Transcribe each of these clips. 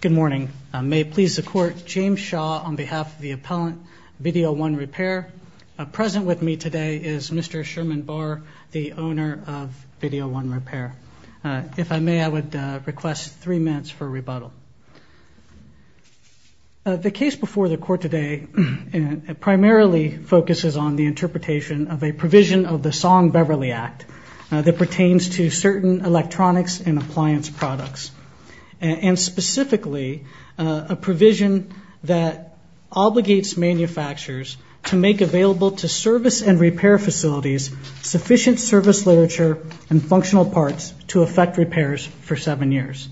Good morning. May it please the Court, James Shaw on behalf of the appellant Video 1 Repair. Present with me today is Mr. Sherman Bahr, the owner of Video 1 Repair. If I may, I would request three minutes for rebuttal. The case before the Court today primarily focuses on the interpretation of a provision of the Song-Beverly Act that pertains to certain electronics and appliance products, and specifically a provision that obligates manufacturers to make available to service and repair facilities sufficient service literature and functional parts to effect repairs for seven years.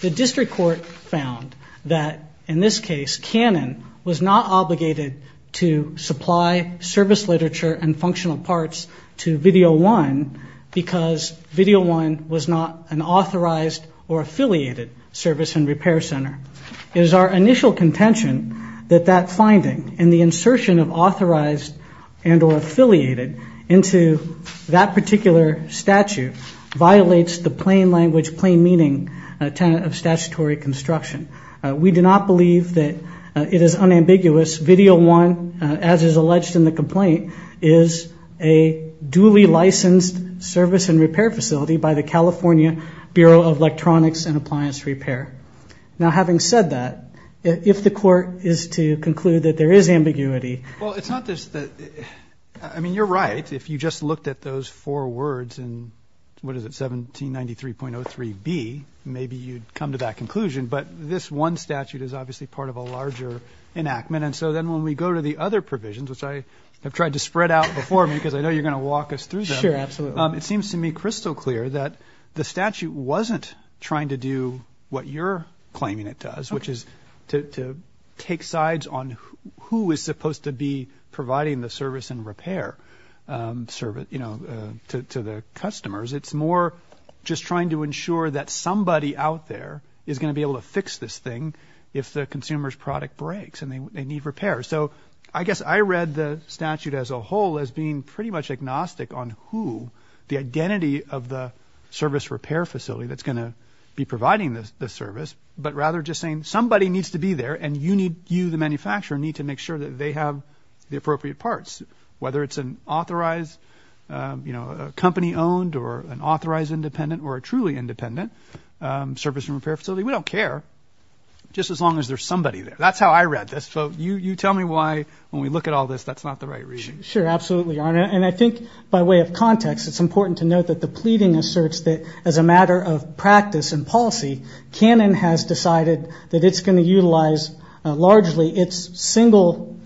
The District Court found that, in this case, Canon was not obligated to supply service literature and functional parts to Video 1 because Video 1 was not an authorized or affiliated service and repair center. It is our initial contention that that finding and the insertion of authorized and or affiliated into that particular statute violates the plain language, plain meaning tenet of statutory construction. We do not believe that it is unambiguous. Video 1, as is alleged in the complaint, is a duly licensed service and repair facility by the California Bureau of Electronics and Appliance Repair. Now, having said that, if the Court is to conclude that there is ambiguity. Well, it's not just that. I mean, you're right, if you just looked at those four words in, what is it, 1793.03b, maybe you'd come to that conclusion. But this one statute is obviously part of a larger enactment. And so then when we go to the other provisions, which I have tried to spread out before me, because I know you're going to walk us through them. Sure, absolutely. It seems to me crystal clear that the statute wasn't trying to do what you're claiming it does, which is to take sides on who is supposed to be providing the service and repair to the customers. It's more just trying to ensure that somebody out there is going to be able to fix this thing if the consumer's product breaks and they need repair. So I guess I read the statute as a whole as being pretty much agnostic on who, the identity of the service repair facility that's going to be providing the service, but rather just saying somebody needs to be there and you, the manufacturer, need to make sure that they have the appropriate parts, whether it's an authorized company owned or an authorized independent or a truly independent service and repair facility. We don't care, just as long as there's somebody there. That's how I read this. So you tell me why, when we look at all this, that's not the right reading. Sure, absolutely. And I think by way of context, it's important to note that the pleading asserts that as a matter of practice and policy, Canon has decided that it's going to utilize, largely, its single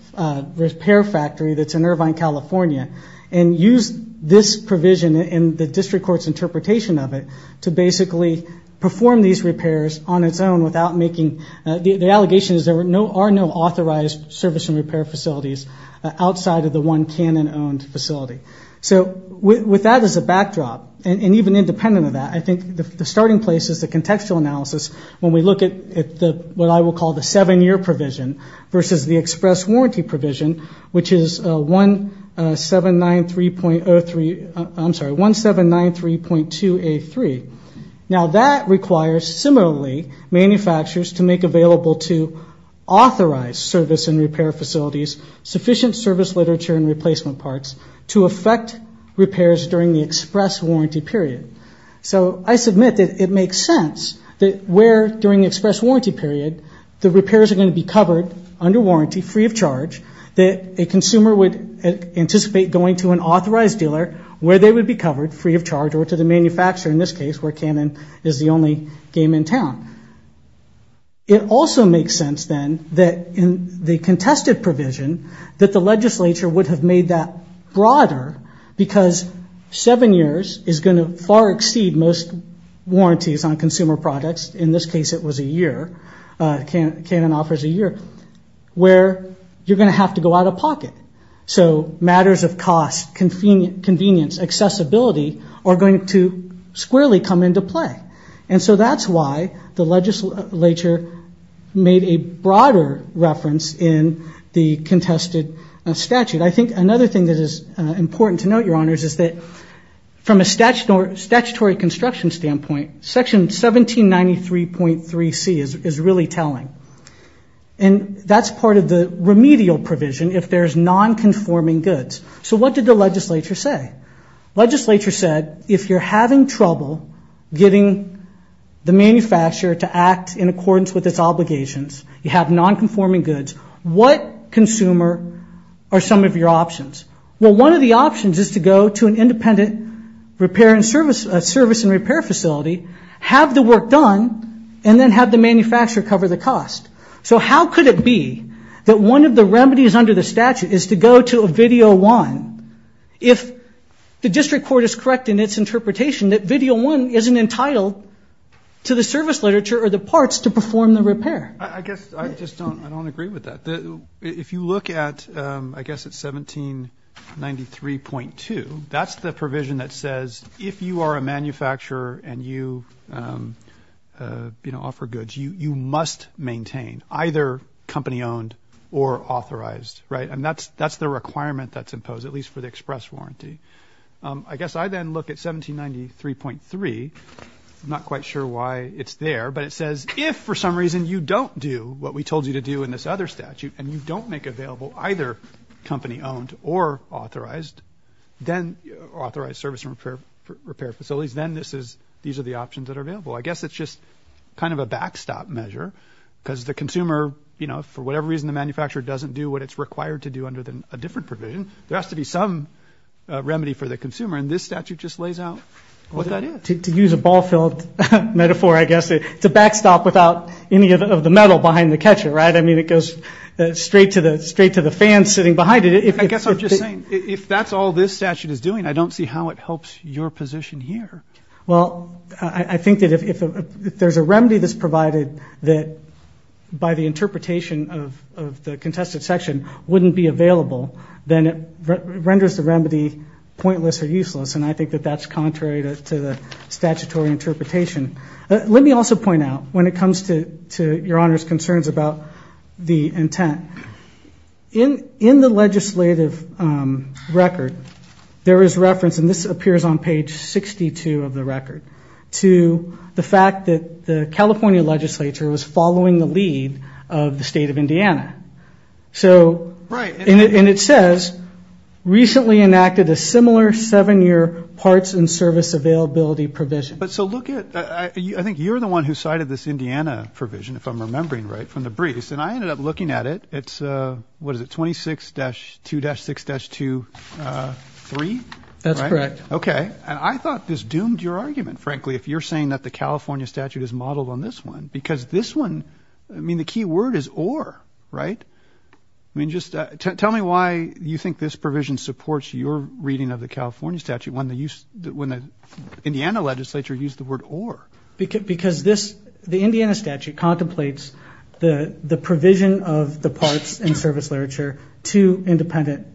repair factory that's in Irvine, California, and use this provision in the district court's interpretation of it to basically perform these repairs on its own without making, the allegation is there are no authorized service and repair facilities outside of the one Canon owned facility. So with that as a backdrop, and even independent of that, I think the starting place is the contextual analysis, when we look at what I will call the seven-year provision versus the express warranty provision, which is 1793.03, I'm sorry, 1793.2A3. Now that requires, similarly, manufacturers to make available to authorized service and repair facilities sufficient service literature and replacement parts to affect repairs during the express warranty period. So I submit that it makes sense that where, during the express warranty period, the repairs are going to be covered under warranty, free of charge, that a consumer would anticipate going to an authorized dealer where they would be covered, free of charge, or to the manufacturer, in this case, where Canon is the only game in town. It also makes sense, then, that in the contested provision, that the legislature would have made that broader because seven years is going to far exceed most warranties on consumer products, in this case it was a year, Canon offers a year, where you're going to have to go out of pocket. So matters of cost, convenience, accessibility, are going to squarely come into play. And so that's why the legislature made a broader reference in the contested statute. I think another thing that is important to note, Your Honors, is that from a statutory construction standpoint, Section 1793.3C is really telling. And that's part of the remedial provision if there's non-conforming goods. So what did the legislature say? Legislature said, if you're having trouble getting the manufacturer to act in accordance with its obligations, you have non-conforming goods, what consumer are some of your options? Well, one of the options is to go to an independent service and repair facility, have the work done, and then have the manufacturer cover the cost. So how could it be that one of the remedies under the statute is to go to a Video 1 if the district court is correct in its interpretation that Video 1 isn't entitled to the service literature or the parts to perform the repair? I guess I just don't agree with that. If you look at, I guess, at 1793.2, that's the provision that says, if you are a manufacturer and you offer goods, you must maintain either company-owned or authorized. Right? And that's the requirement that's imposed, at least for the express warranty. I guess I then look at 1793.3. I'm not quite sure why it's there, but it says, if for some reason you don't do what we told you to do in this other statute and you don't make available either company-owned or authorized, then authorized service and repair facilities, then these are the options that are available. If for whatever reason the manufacturer doesn't do what it's required to do under a different provision, there has to be some remedy for the consumer, and this statute just lays out what that is. To use a ball-filled metaphor, I guess, it's a backstop without any of the metal behind the catcher. Right? I mean, it goes straight to the fan sitting behind it. I guess I'm just saying, if that's all this statute is doing, I don't see how it helps your position here. Well, I think that if there's a remedy that's provided that by the interpretation of the contested section wouldn't be available, then it renders the remedy pointless or useless, and I think that that's contrary to the statutory interpretation. Let me also point out, when it comes to Your Honor's concerns about the intent, in the legislative record there is reference, and this appears on page 62 of the record, to the fact that the California legislature was following the lead of the state of Indiana. Right. And it says, recently enacted a similar seven-year parts and service availability provision. So look at it. I think you're the one who cited this Indiana provision, if I'm remembering right, from the briefs, and I ended up looking at it. It's, what is it, 26-2-6-2-3? That's correct. Okay. And I thought this doomed your argument, frankly, if you're saying that the California statute is modeled on this one, because this one, I mean, the key word is or, right? I mean, just tell me why you think this provision supports your reading of the California statute when the Indiana legislature used the word or. Because this, the Indiana statute contemplates the provision of the parts and service literature to independent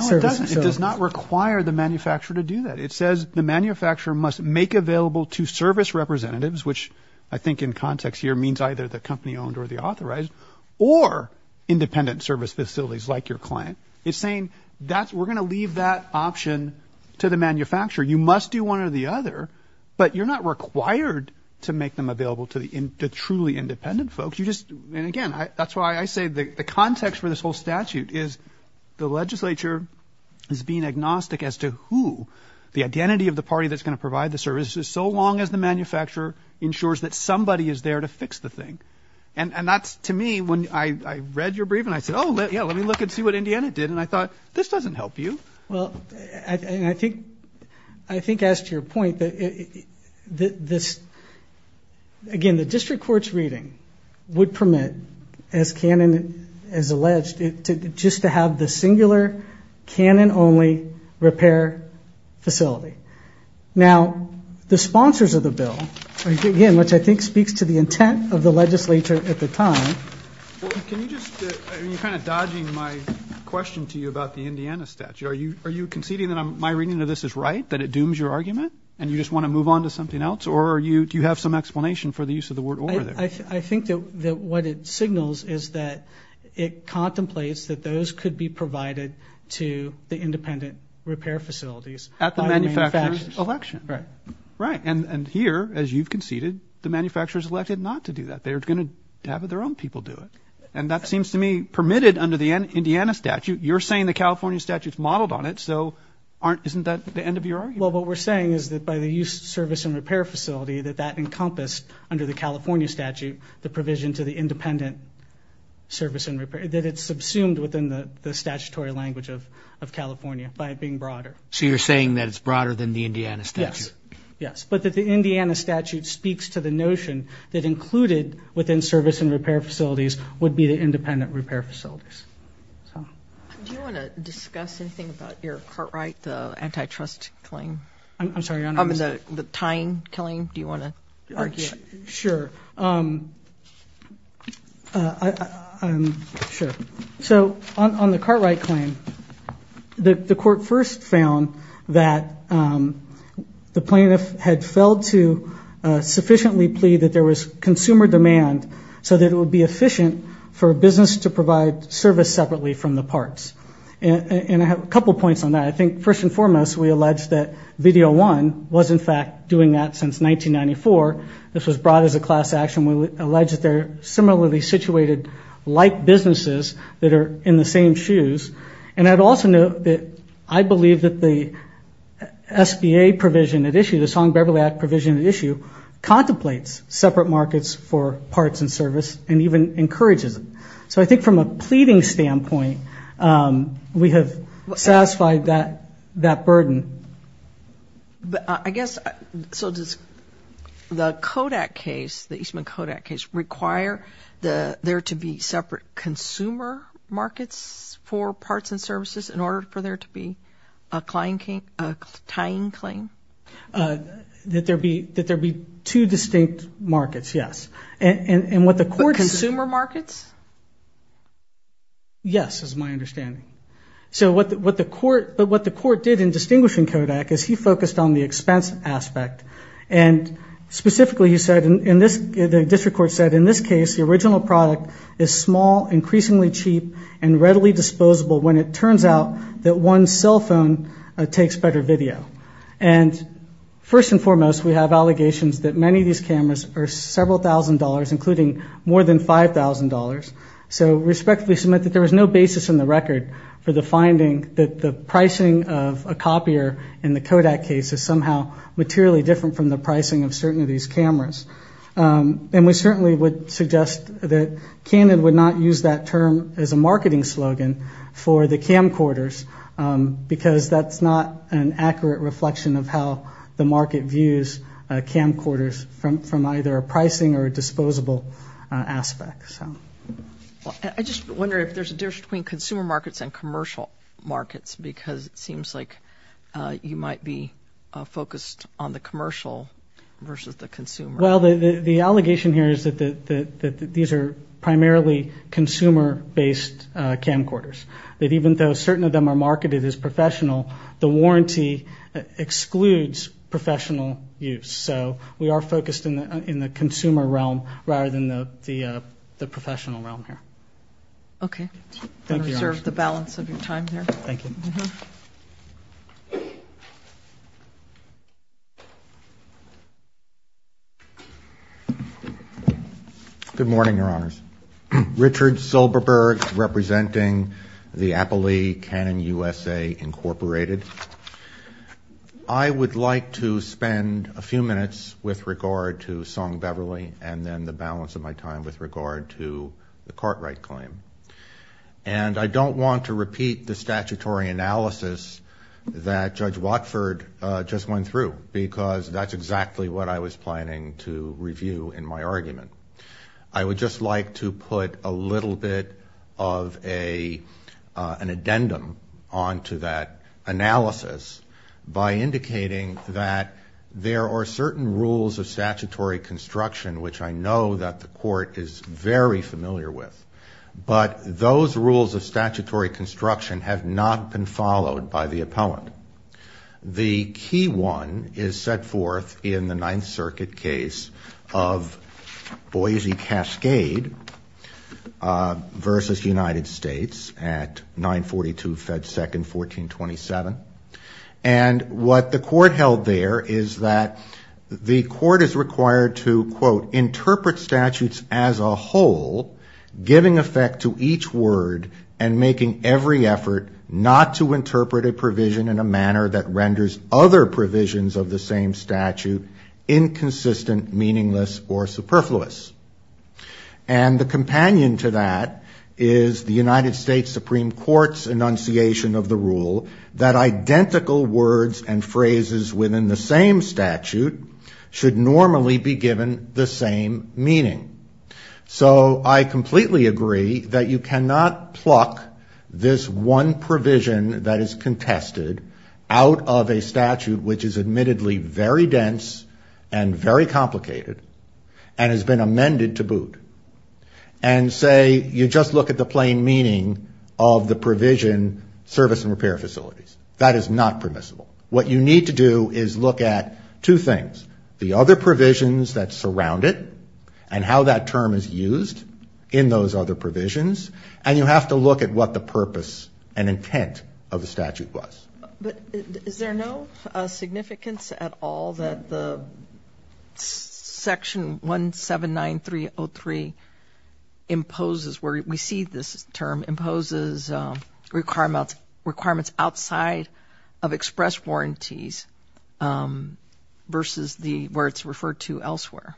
services. No, it doesn't. It does not require the manufacturer to do that. It says the manufacturer must make available to service representatives, which I think in context here means either the company owned or the authorized, or independent service facilities like your client. It's saying we're going to leave that option to the manufacturer. You must do one or the other, but you're not required to make them available to the truly independent folks. You just, and again, that's why I say the context for this whole statute is the legislature is being agnostic as to who the identity of the party that's going to provide the services, so long as the manufacturer ensures that somebody is there to fix the thing. And that's, to me, when I read your brief and I said, oh, yeah, let me look and see what Indiana did, and I thought, this doesn't help you. Well, and I think as to your point, this, again, the district court's reading would permit, as canon, as alleged, just to have the singular canon-only repair facility. Now, the sponsors of the bill, again, which I think speaks to the intent of the legislature at the time. Can you just, you're kind of dodging my question to you about the Indiana statute. Are you conceding that my reading of this is right, that it dooms your argument, and you just want to move on to something else, or do you have some explanation for the use of the word over there? I think that what it signals is that it contemplates that those could be provided to the independent repair facilities. At the manufacturer's election. Right. Right. And here, as you've conceded, the manufacturer's elected not to do that. They're going to have their own people do it. And that seems to me permitted under the Indiana statute. You're saying the California statute's modeled on it, so isn't that the end of your argument? Well, what we're saying is that by the use of service and repair facility, that that encompassed under the California statute the provision to the independent service and repair, that it's subsumed within the statutory language of California by it being broader. So you're saying that it's broader than the Indiana statute? Yes. Yes. But that the Indiana statute speaks to the notion that included within service and repair facilities would be the independent repair facilities. Do you want to discuss anything about your Cartwright, the antitrust claim? I'm sorry, Your Honor. I mean, the tying, killing, do you want to argue? Sure. So on the Cartwright claim, the court first found that the plaintiff had failed to sufficiently plead that there was consumer demand so that it would be efficient for a business to provide service separately from the parts. And I have a couple points on that. I think, first and foremost, we allege that VDO-1 was, in fact, doing that since 1994. This was brought as a class action. We allege that they're similarly situated like businesses that are in the same shoes. And I'd also note that I believe that the SBA provision at issue, contemplates separate markets for parts and service and even encourages it. So I think from a pleading standpoint, we have satisfied that burden. But I guess, so does the Kodak case, the Eastman Kodak case, require there to be separate consumer markets for parts and services in order for there to be a tying claim? That there be two distinct markets, yes. Consumer markets? Yes, is my understanding. So what the court did in distinguishing Kodak is he focused on the expense aspect. And specifically, he said, the district court said, in this case, the original product is small, increasingly cheap, and readily disposable when it turns out that one cell phone takes better video. And first and foremost, we have allegations that many of these cameras are several thousand dollars, including more than $5,000. So respectfully submit that there was no basis in the record for the finding that the pricing of a copier in the Kodak case is somehow materially different from the pricing of certain of these cameras. And we certainly would suggest that Cannon would not use that term as a marketing slogan for the camcorders, because that's not an accurate reflection of how the market views camcorders from either a pricing or a disposable aspect. I just wonder if there's a difference between consumer markets and commercial markets, because it seems like you might be focused on the commercial versus the consumer. Well, the allegation here is that these are primarily consumer-based camcorders, that even though certain of them are marketed as professional, the warranty excludes professional use. So we are focused in the consumer realm rather than the professional realm here. Okay. I'm going to reserve the balance of your time there. Thank you. Good morning, Your Honors. Richard Silberberg, representing the Appley Cannon USA, Incorporated. I would like to spend a few minutes with regard to Song-Beverly and then the balance of my time with regard to the Cartwright claim. And I don't want to repeat the statutory analysis that Judge Watford just went through, because that's exactly what I was planning to review in my argument. I would just like to put a little bit of an addendum onto that analysis by indicating that there are certain rules of statutory construction, which I know that the Court is very familiar with, but those rules of statutory construction have not been followed by the appellant. The key one is set forth in the Ninth Circuit case of Boise Cascade versus United States at 942 Fed 2nd, 1427. And what the Court held there is that the Court is required to, quote, interpret statutes as a whole, giving effect to each word and making every effort not to interpret a provision in a manner that renders other provisions of the same statute inconsistent, meaningless, or superfluous. And the companion to that is the United States Supreme Court's enunciation of the rule that identical words and phrases within the same statute should normally be given the same meaning. So I completely agree that you cannot pluck this one provision that is contested out of a statute which is admittedly very dense and very complicated and has been amended to boot, and say you just look at the plain meaning of the provision service and repair facilities. That is not permissible. What you need to do is look at two things, the other provisions that surround it and how that term is used in those other provisions, and you have to look at what the purpose and intent of the statute was. But is there no significance at all that the Section 179303 imposes, where we see this term imposes requirements outside of express rules and express warranties versus where it's referred to elsewhere?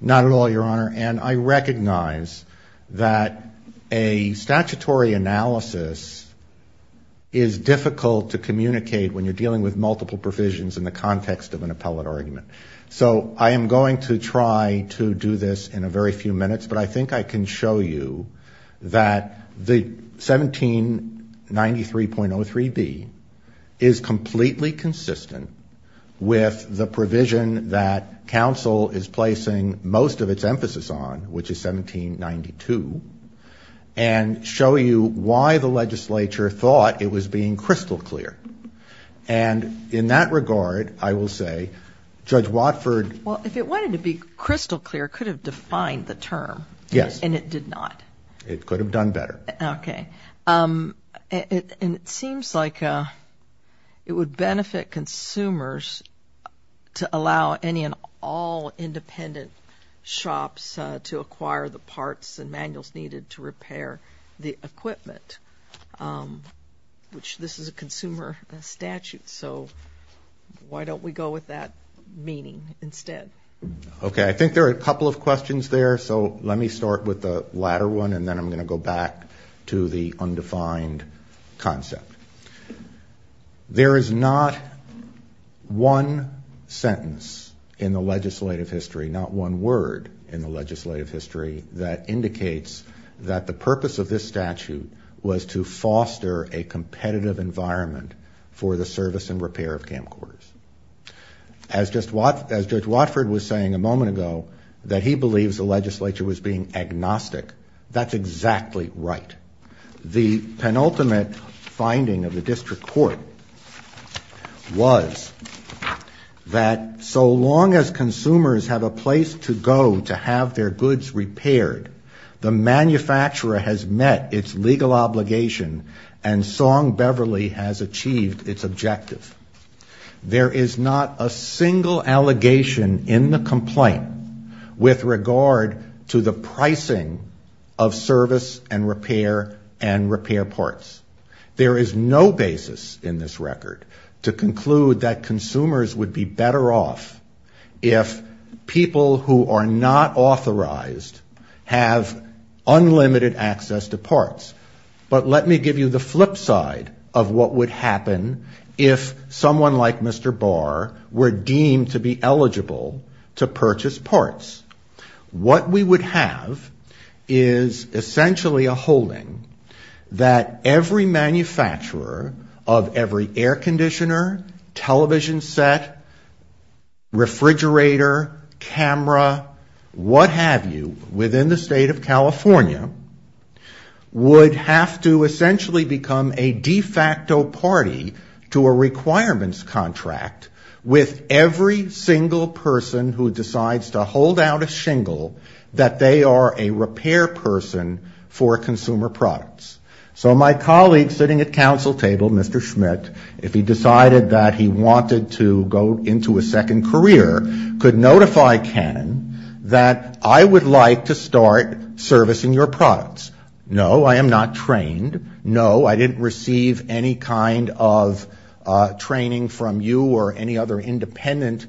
Not at all, Your Honor, and I recognize that a statutory analysis is difficult to communicate when you're dealing with multiple provisions in the context of an appellate argument. So I am going to try to do this in a very few minutes, but I think I can show you that the 1793.03b is completely consistent with the provision that counsel is placing most of its emphasis on, which is 1792, and show you why the legislature thought it was being crystal clear. And in that regard, I will say, Judge Watford... Well, if it wanted to be crystal clear, it could have defined the term, and it did not. It could have done better. And it seems like it would benefit consumers to allow any and all independent shops to acquire the parts and manuals needed to repair the equipment, which this is a consumer statute, so why don't we go with that meaning instead? Okay, I think there are a couple of questions there, so let me start with the latter one, and then I'm going to go back to the undefined concept. There is not one sentence in the legislative history, not one word in the legislative history, that indicates that the purpose of this statute was to foster a competitive environment for the service and repair of camcorders. As Judge Watford was saying a moment ago, that he believes the legislature was being agnostic, that's exactly right. The penultimate finding of the district court was that so long as consumers have a place to go to have their goods repaired, the manufacturer has met its legal obligation, and Song Beverly has achieved its objective. There is not a single allegation in the complaint with regard to the pricing of service and repair and repair parts. There is no basis in this record to conclude that consumers would be better off if people who are not authorized have unlimited access to parts. But let me give you the flip side of what would happen if someone like Mr. Barr were deemed to be eligible to purchase parts. What we would have is essentially a holding that every manufacturer of every air conditioner, television set, refrigerator, camera, water heater, and so on, would be eligible to purchase parts. What have you, within the state of California, would have to essentially become a de facto party to a requirements contract with every single person who decides to hold out a shingle that they are a repair person for consumer products. So my colleague sitting at council table, Mr. Schmidt, if he decided that he wanted to go into a second career, could notify Canon that I would like to start servicing your products. No, I am not trained. No, I didn't receive any kind of training from you or any other independent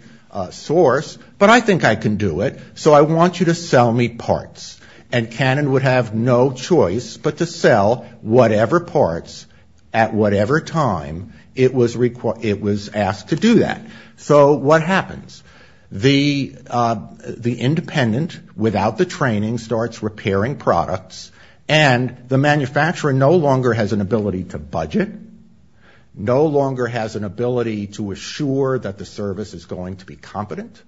source, but I think I can do it, so I want you to sell me parts. And Canon would have no choice but to sell whatever parts at whatever time it was asked to do that. So what happens? The independent, without the training, starts repairing products, and the manufacturer no longer has an ability to budget, no longer has an ability to assure that the service is going to be competent.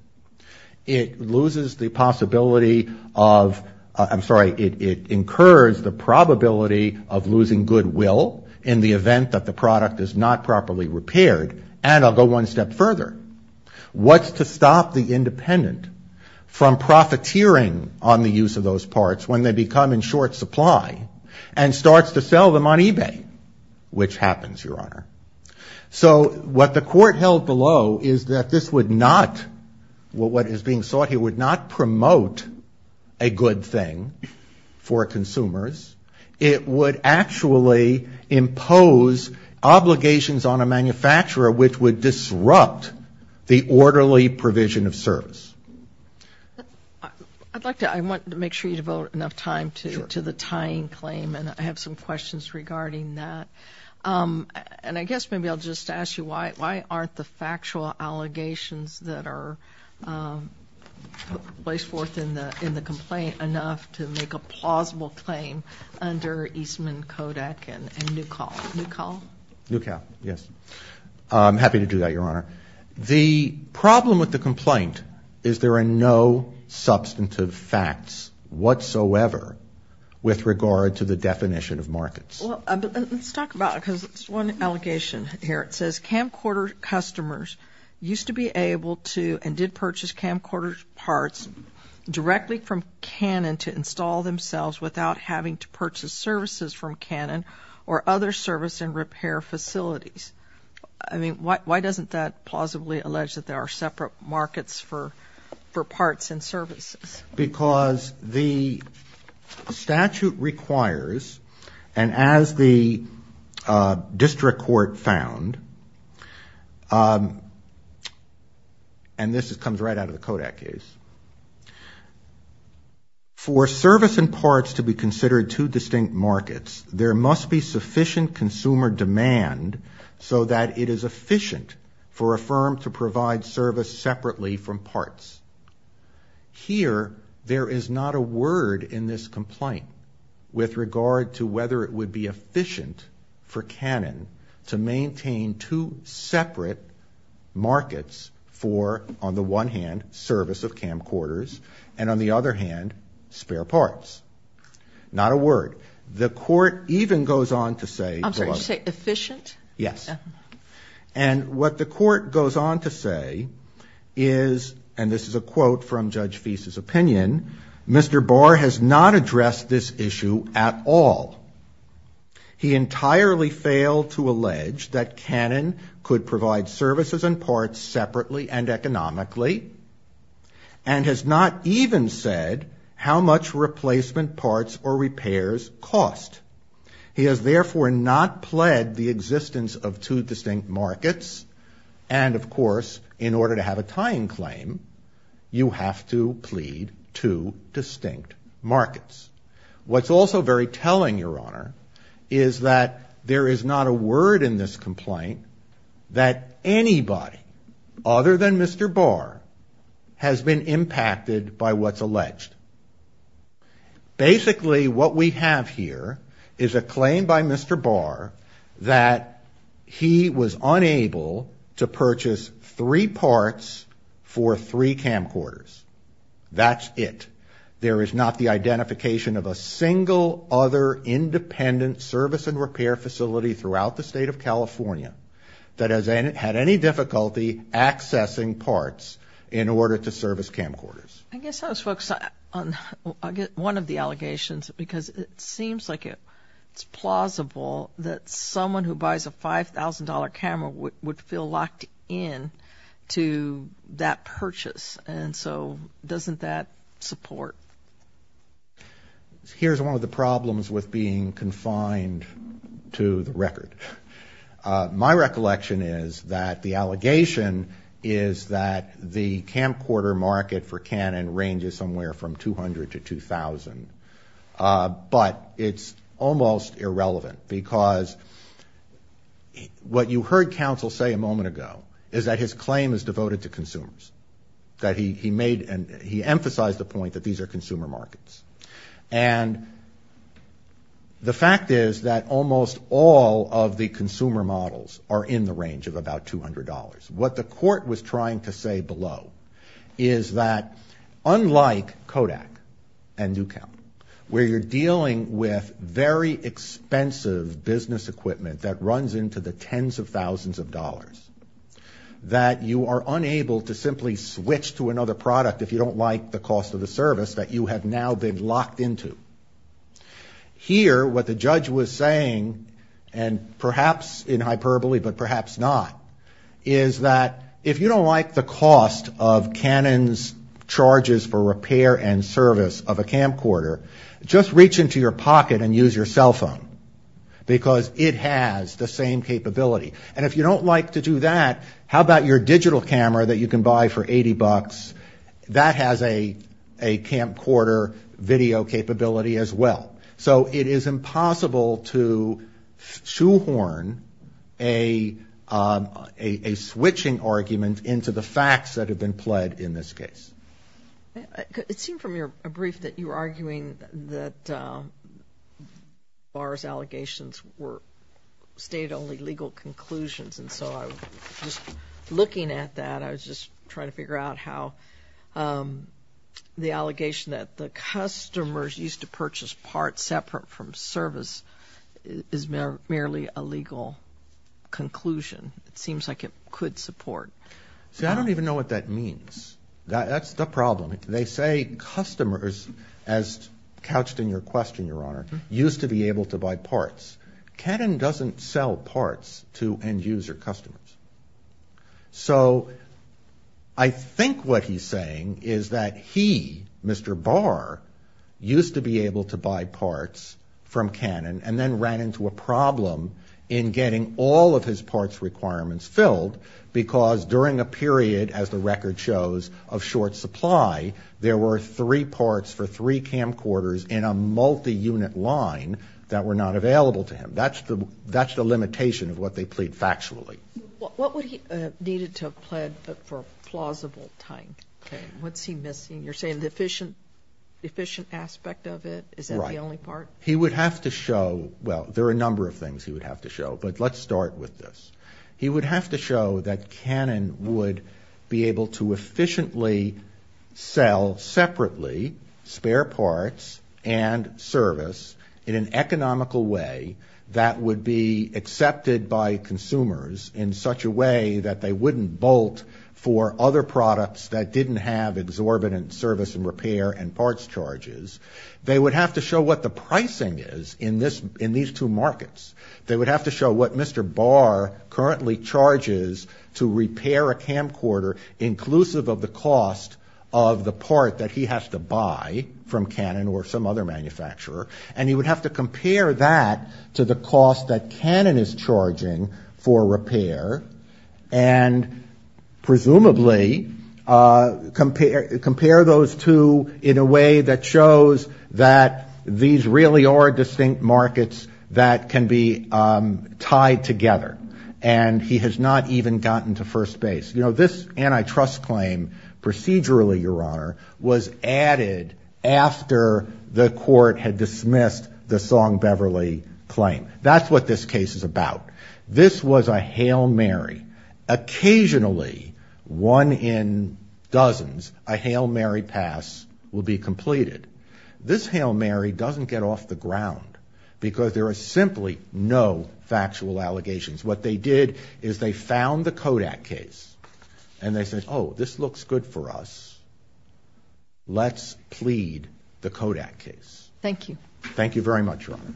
It loses the possibility of, I'm sorry, it incurs the probability of losing goodwill in the event that the product is not properly repaired, and I'll go one step further. What's to stop the independent from profiteering on the use of those parts when they become in short supply and starts to sell them on eBay, which happens, Your Honor. So what the court held below is that this would not, what is being sought here, would not promote a good thing for a manufacturer, which would disrupt the orderly provision of service. I'd like to, I want to make sure you devote enough time to the tying claim, and I have some questions regarding that. And I guess maybe I'll just ask you, why aren't the factual allegations that are placed forth in the complaint enough to make a plausible claim under Eastman, Kodak, and Nukal? Nukal, yes, I'm happy to do that, Your Honor. The problem with the complaint is there are no substantive facts whatsoever with regard to the definition of markets. Well, let's talk about it, because there's one allegation here. It says camcorder customers used to be able to and did purchase camcorder parts directly from Canon to install themselves without having to purchase services from Canon or other service and repair facilities. I mean, why doesn't that plausibly allege that there are separate markets for parts and services? Because the statute requires, and as the district court found, and this comes right out of the Kodak case, for service and repair to be considered two distinct markets, there must be sufficient consumer demand so that it is efficient for a firm to provide service separately from parts. Here, there is not a word in this complaint with regard to whether it would be efficient for Canon to maintain two separate markets for, on the one hand, service of camcorders, and on the other hand, spare parts. Not a word. The court even goes on to say... I'm sorry, you say efficient? Yes. And what the court goes on to say is, and this is a quote from Judge Feist's opinion, Mr. Barr has not addressed this issue at all. He entirely failed to allege that Canon could provide services and parts separately and economically, and has not even said how much replacement parts or repairs cost. He has therefore not pled the existence of two distinct markets, and of course, in order to have a tying claim, you have to plead two And what the court goes on to say, Your Honor, is that there is not a word in this complaint that anybody other than Mr. Barr has been impacted by what's alleged. Basically, what we have here is a claim by Mr. Barr that he was unable to purchase three parts for three camcorders. That's it. There is not the identification of a single other independent service and repair facility throughout the state of California that has had any difficulty accessing parts in order to service camcorders. I guess I'll just focus on one of the allegations, because it seems like it's plausible that someone who buys a $5,000 camera would feel locked in to that purchase, and so doesn't that support? Here's one of the problems with being confined to the record. My recollection is that the allegation is that the camcorder market for Canon ranges somewhere from $200,000 to $2,000, but it's almost irrelevant, because what you heard counsel say a moment ago is that his claim is devoted to consumers. That he made, he emphasized the point that these are consumer markets. And the fact is that almost all of the consumer models are in the range of about $200. What the court was trying to say below is that unlike Kodak and Newcombe, where you're dealing with very expensive business equipment that runs into the tens of thousands of dollars, that you are unable to simply switch to another product if you don't like the cost of the service that you have now been locked into. Here, what the judge was saying, and perhaps in hyperbole, but perhaps not, is that if you don't like the cost of Canon's charges for repair and repair, you can't buy Canon, because it has the same capability. And if you don't like to do that, how about your digital camera that you can buy for $80? That has a camcorder video capability as well. So it is impossible to shoehorn a switching argument into the facts that have been pled in this case. It seemed from your brief that you were arguing that bars allegations were state-only legal conclusions. And so I was just looking at that. I was just trying to figure out how the allegation that the customers used to purchase parts separate from service is merely a legal conclusion. It seems like it could support. See, I don't even know what that means. That's the problem. They say customers, as couched in your question, Your Honor, used to be able to buy parts. Canon doesn't sell parts to end-user customers. So I think what he's saying is that he, Mr. Barr, used to be able to buy parts from Canon, and then ran into a problem in getting all of his parts requirements filled, during a period, as the record shows, of short supply. There were three parts for three camcorders in a multi-unit line that were not available to him. That's the limitation of what they plead factually. What would he have needed to have pled for plausible time? What's he missing? You're saying the efficient aspect of it? Is that the only part? He would have to show, well, there are a number of things he would have to show, but let's start with this. He would have to show that Canon would be able to efficiently sell separately spare parts and service in an economical way that would be accepted by consumers in such a way that they wouldn't bolt for other products that didn't have exorbitant service and repair and parts charges. They would have to show what the pricing is in these two markets. They would have to show what Mr. Barr currently charges to repair a camcorder, inclusive of the cost of the part that he has to buy from Canon or some other manufacturer. And he would have to compare that to the cost that Canon is charging for repair, and presumably compare those two in a way that shows, well, he shows that these really are distinct markets that can be tied together. And he has not even gotten to first base. You know, this antitrust claim procedurally, Your Honor, was added after the court had dismissed the Song Beverly claim. That's what this case is about. This was a hail Mary. This hail Mary doesn't get off the ground because there are simply no factual allegations. What they did is they found the Kodak case and they said, oh, this looks good for us. Let's plead the Kodak case. Thank you. Thank you very much, Your Honor.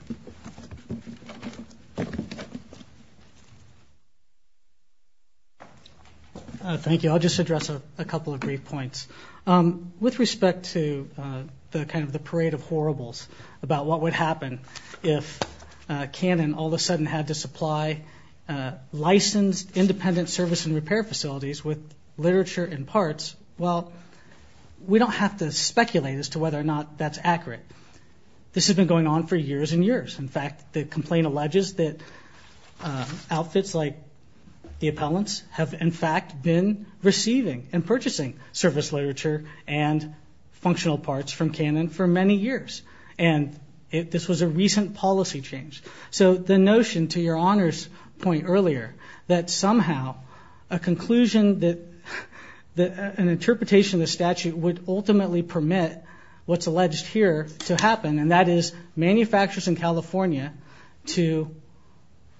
Thank you. I'll just address a couple of brief points. With respect to the kind of the parade of horribles about what would happen if Canon all of a sudden had to supply licensed, independent service and repair facilities with literature and parts, well, we don't have to speculate as to whether or not that's accurate. This has been going on for years and years. In fact, the complaint alleges that outfits like the appellants have, in fact, been receiving and purchasing service literature and functional parts from Canon for many years. And this was a recent policy change. So the notion, to Your Honor's point earlier, that somehow a conclusion, that an interpretation of the statute would ultimately permit what's alleged here to happen, and that is manufacturers in California to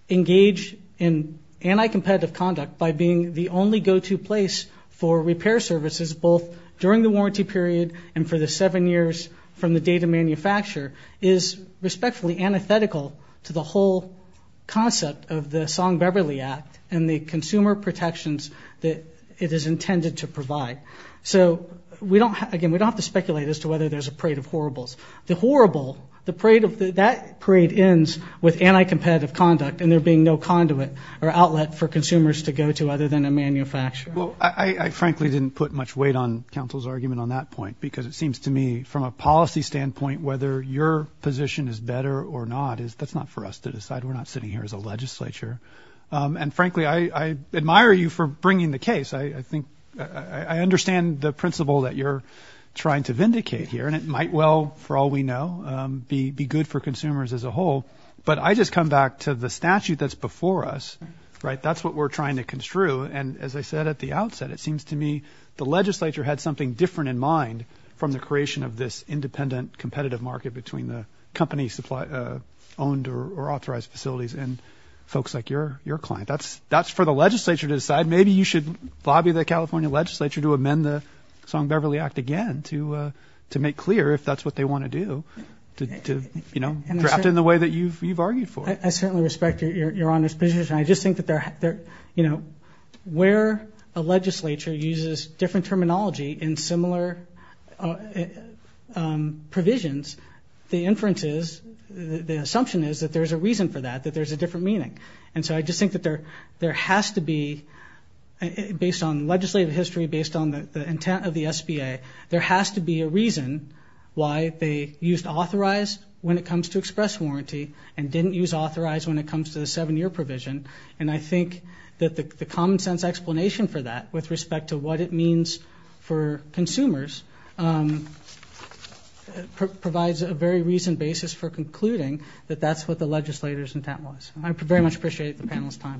engage in anti-competitive conduct by being the only go-to place for repair services, both during the warranty period and for the seven years from the date of manufacture is respectfully antithetical to the whole concept of the Song-Beverly Act and the consumer protections that it is intended to provide. So we don't, again, we don't have to speculate as to whether there's a parade of horribles. The horrible, that parade ends with anti-competitive conduct and there being no conduit or outlet for consumers to go to other than a manufacturer. Well, I frankly didn't put much weight on counsel's argument on that point, because it seems to me from a policy standpoint, whether your position is better or not, that's not for us to decide. We're not sitting here as a legislature. And frankly, I admire you for bringing the case. I think I understand the principle that you're trying to vindicate here. And it might well, for all we know, be good for consumers as a whole. But I just come back to the statute that's before us, right? That's what we're trying to construe. And as I said at the outset, it seems to me the legislature had something different in mind from the creation of this independent competitive market between the company supply, owned or authorized facilities and folks like your client. That's for the legislature to decide. Maybe you should lobby the California legislature to amend the Song-Beverly Act again to make clear if that's what they want to do, to draft it in the way that you've argued for. I certainly respect your Honor's position. I just think that there, you know, where a legislature uses different terminology in similar provisions, the inferences, the assumption is that there's a reason for that, that there's a different meaning. And so I just think that there has to be, based on legislative history, based on the intent of the SBA, there has to be a reason why they used authorized when it comes to express warranty and didn't use authorized when it comes to the seven-year provision. And I think that the common sense explanation for that with respect to what it means for consumers provides a very reason basis for concluding that that's what the legislature's intent was. I very much appreciate the panel's time. Thank you.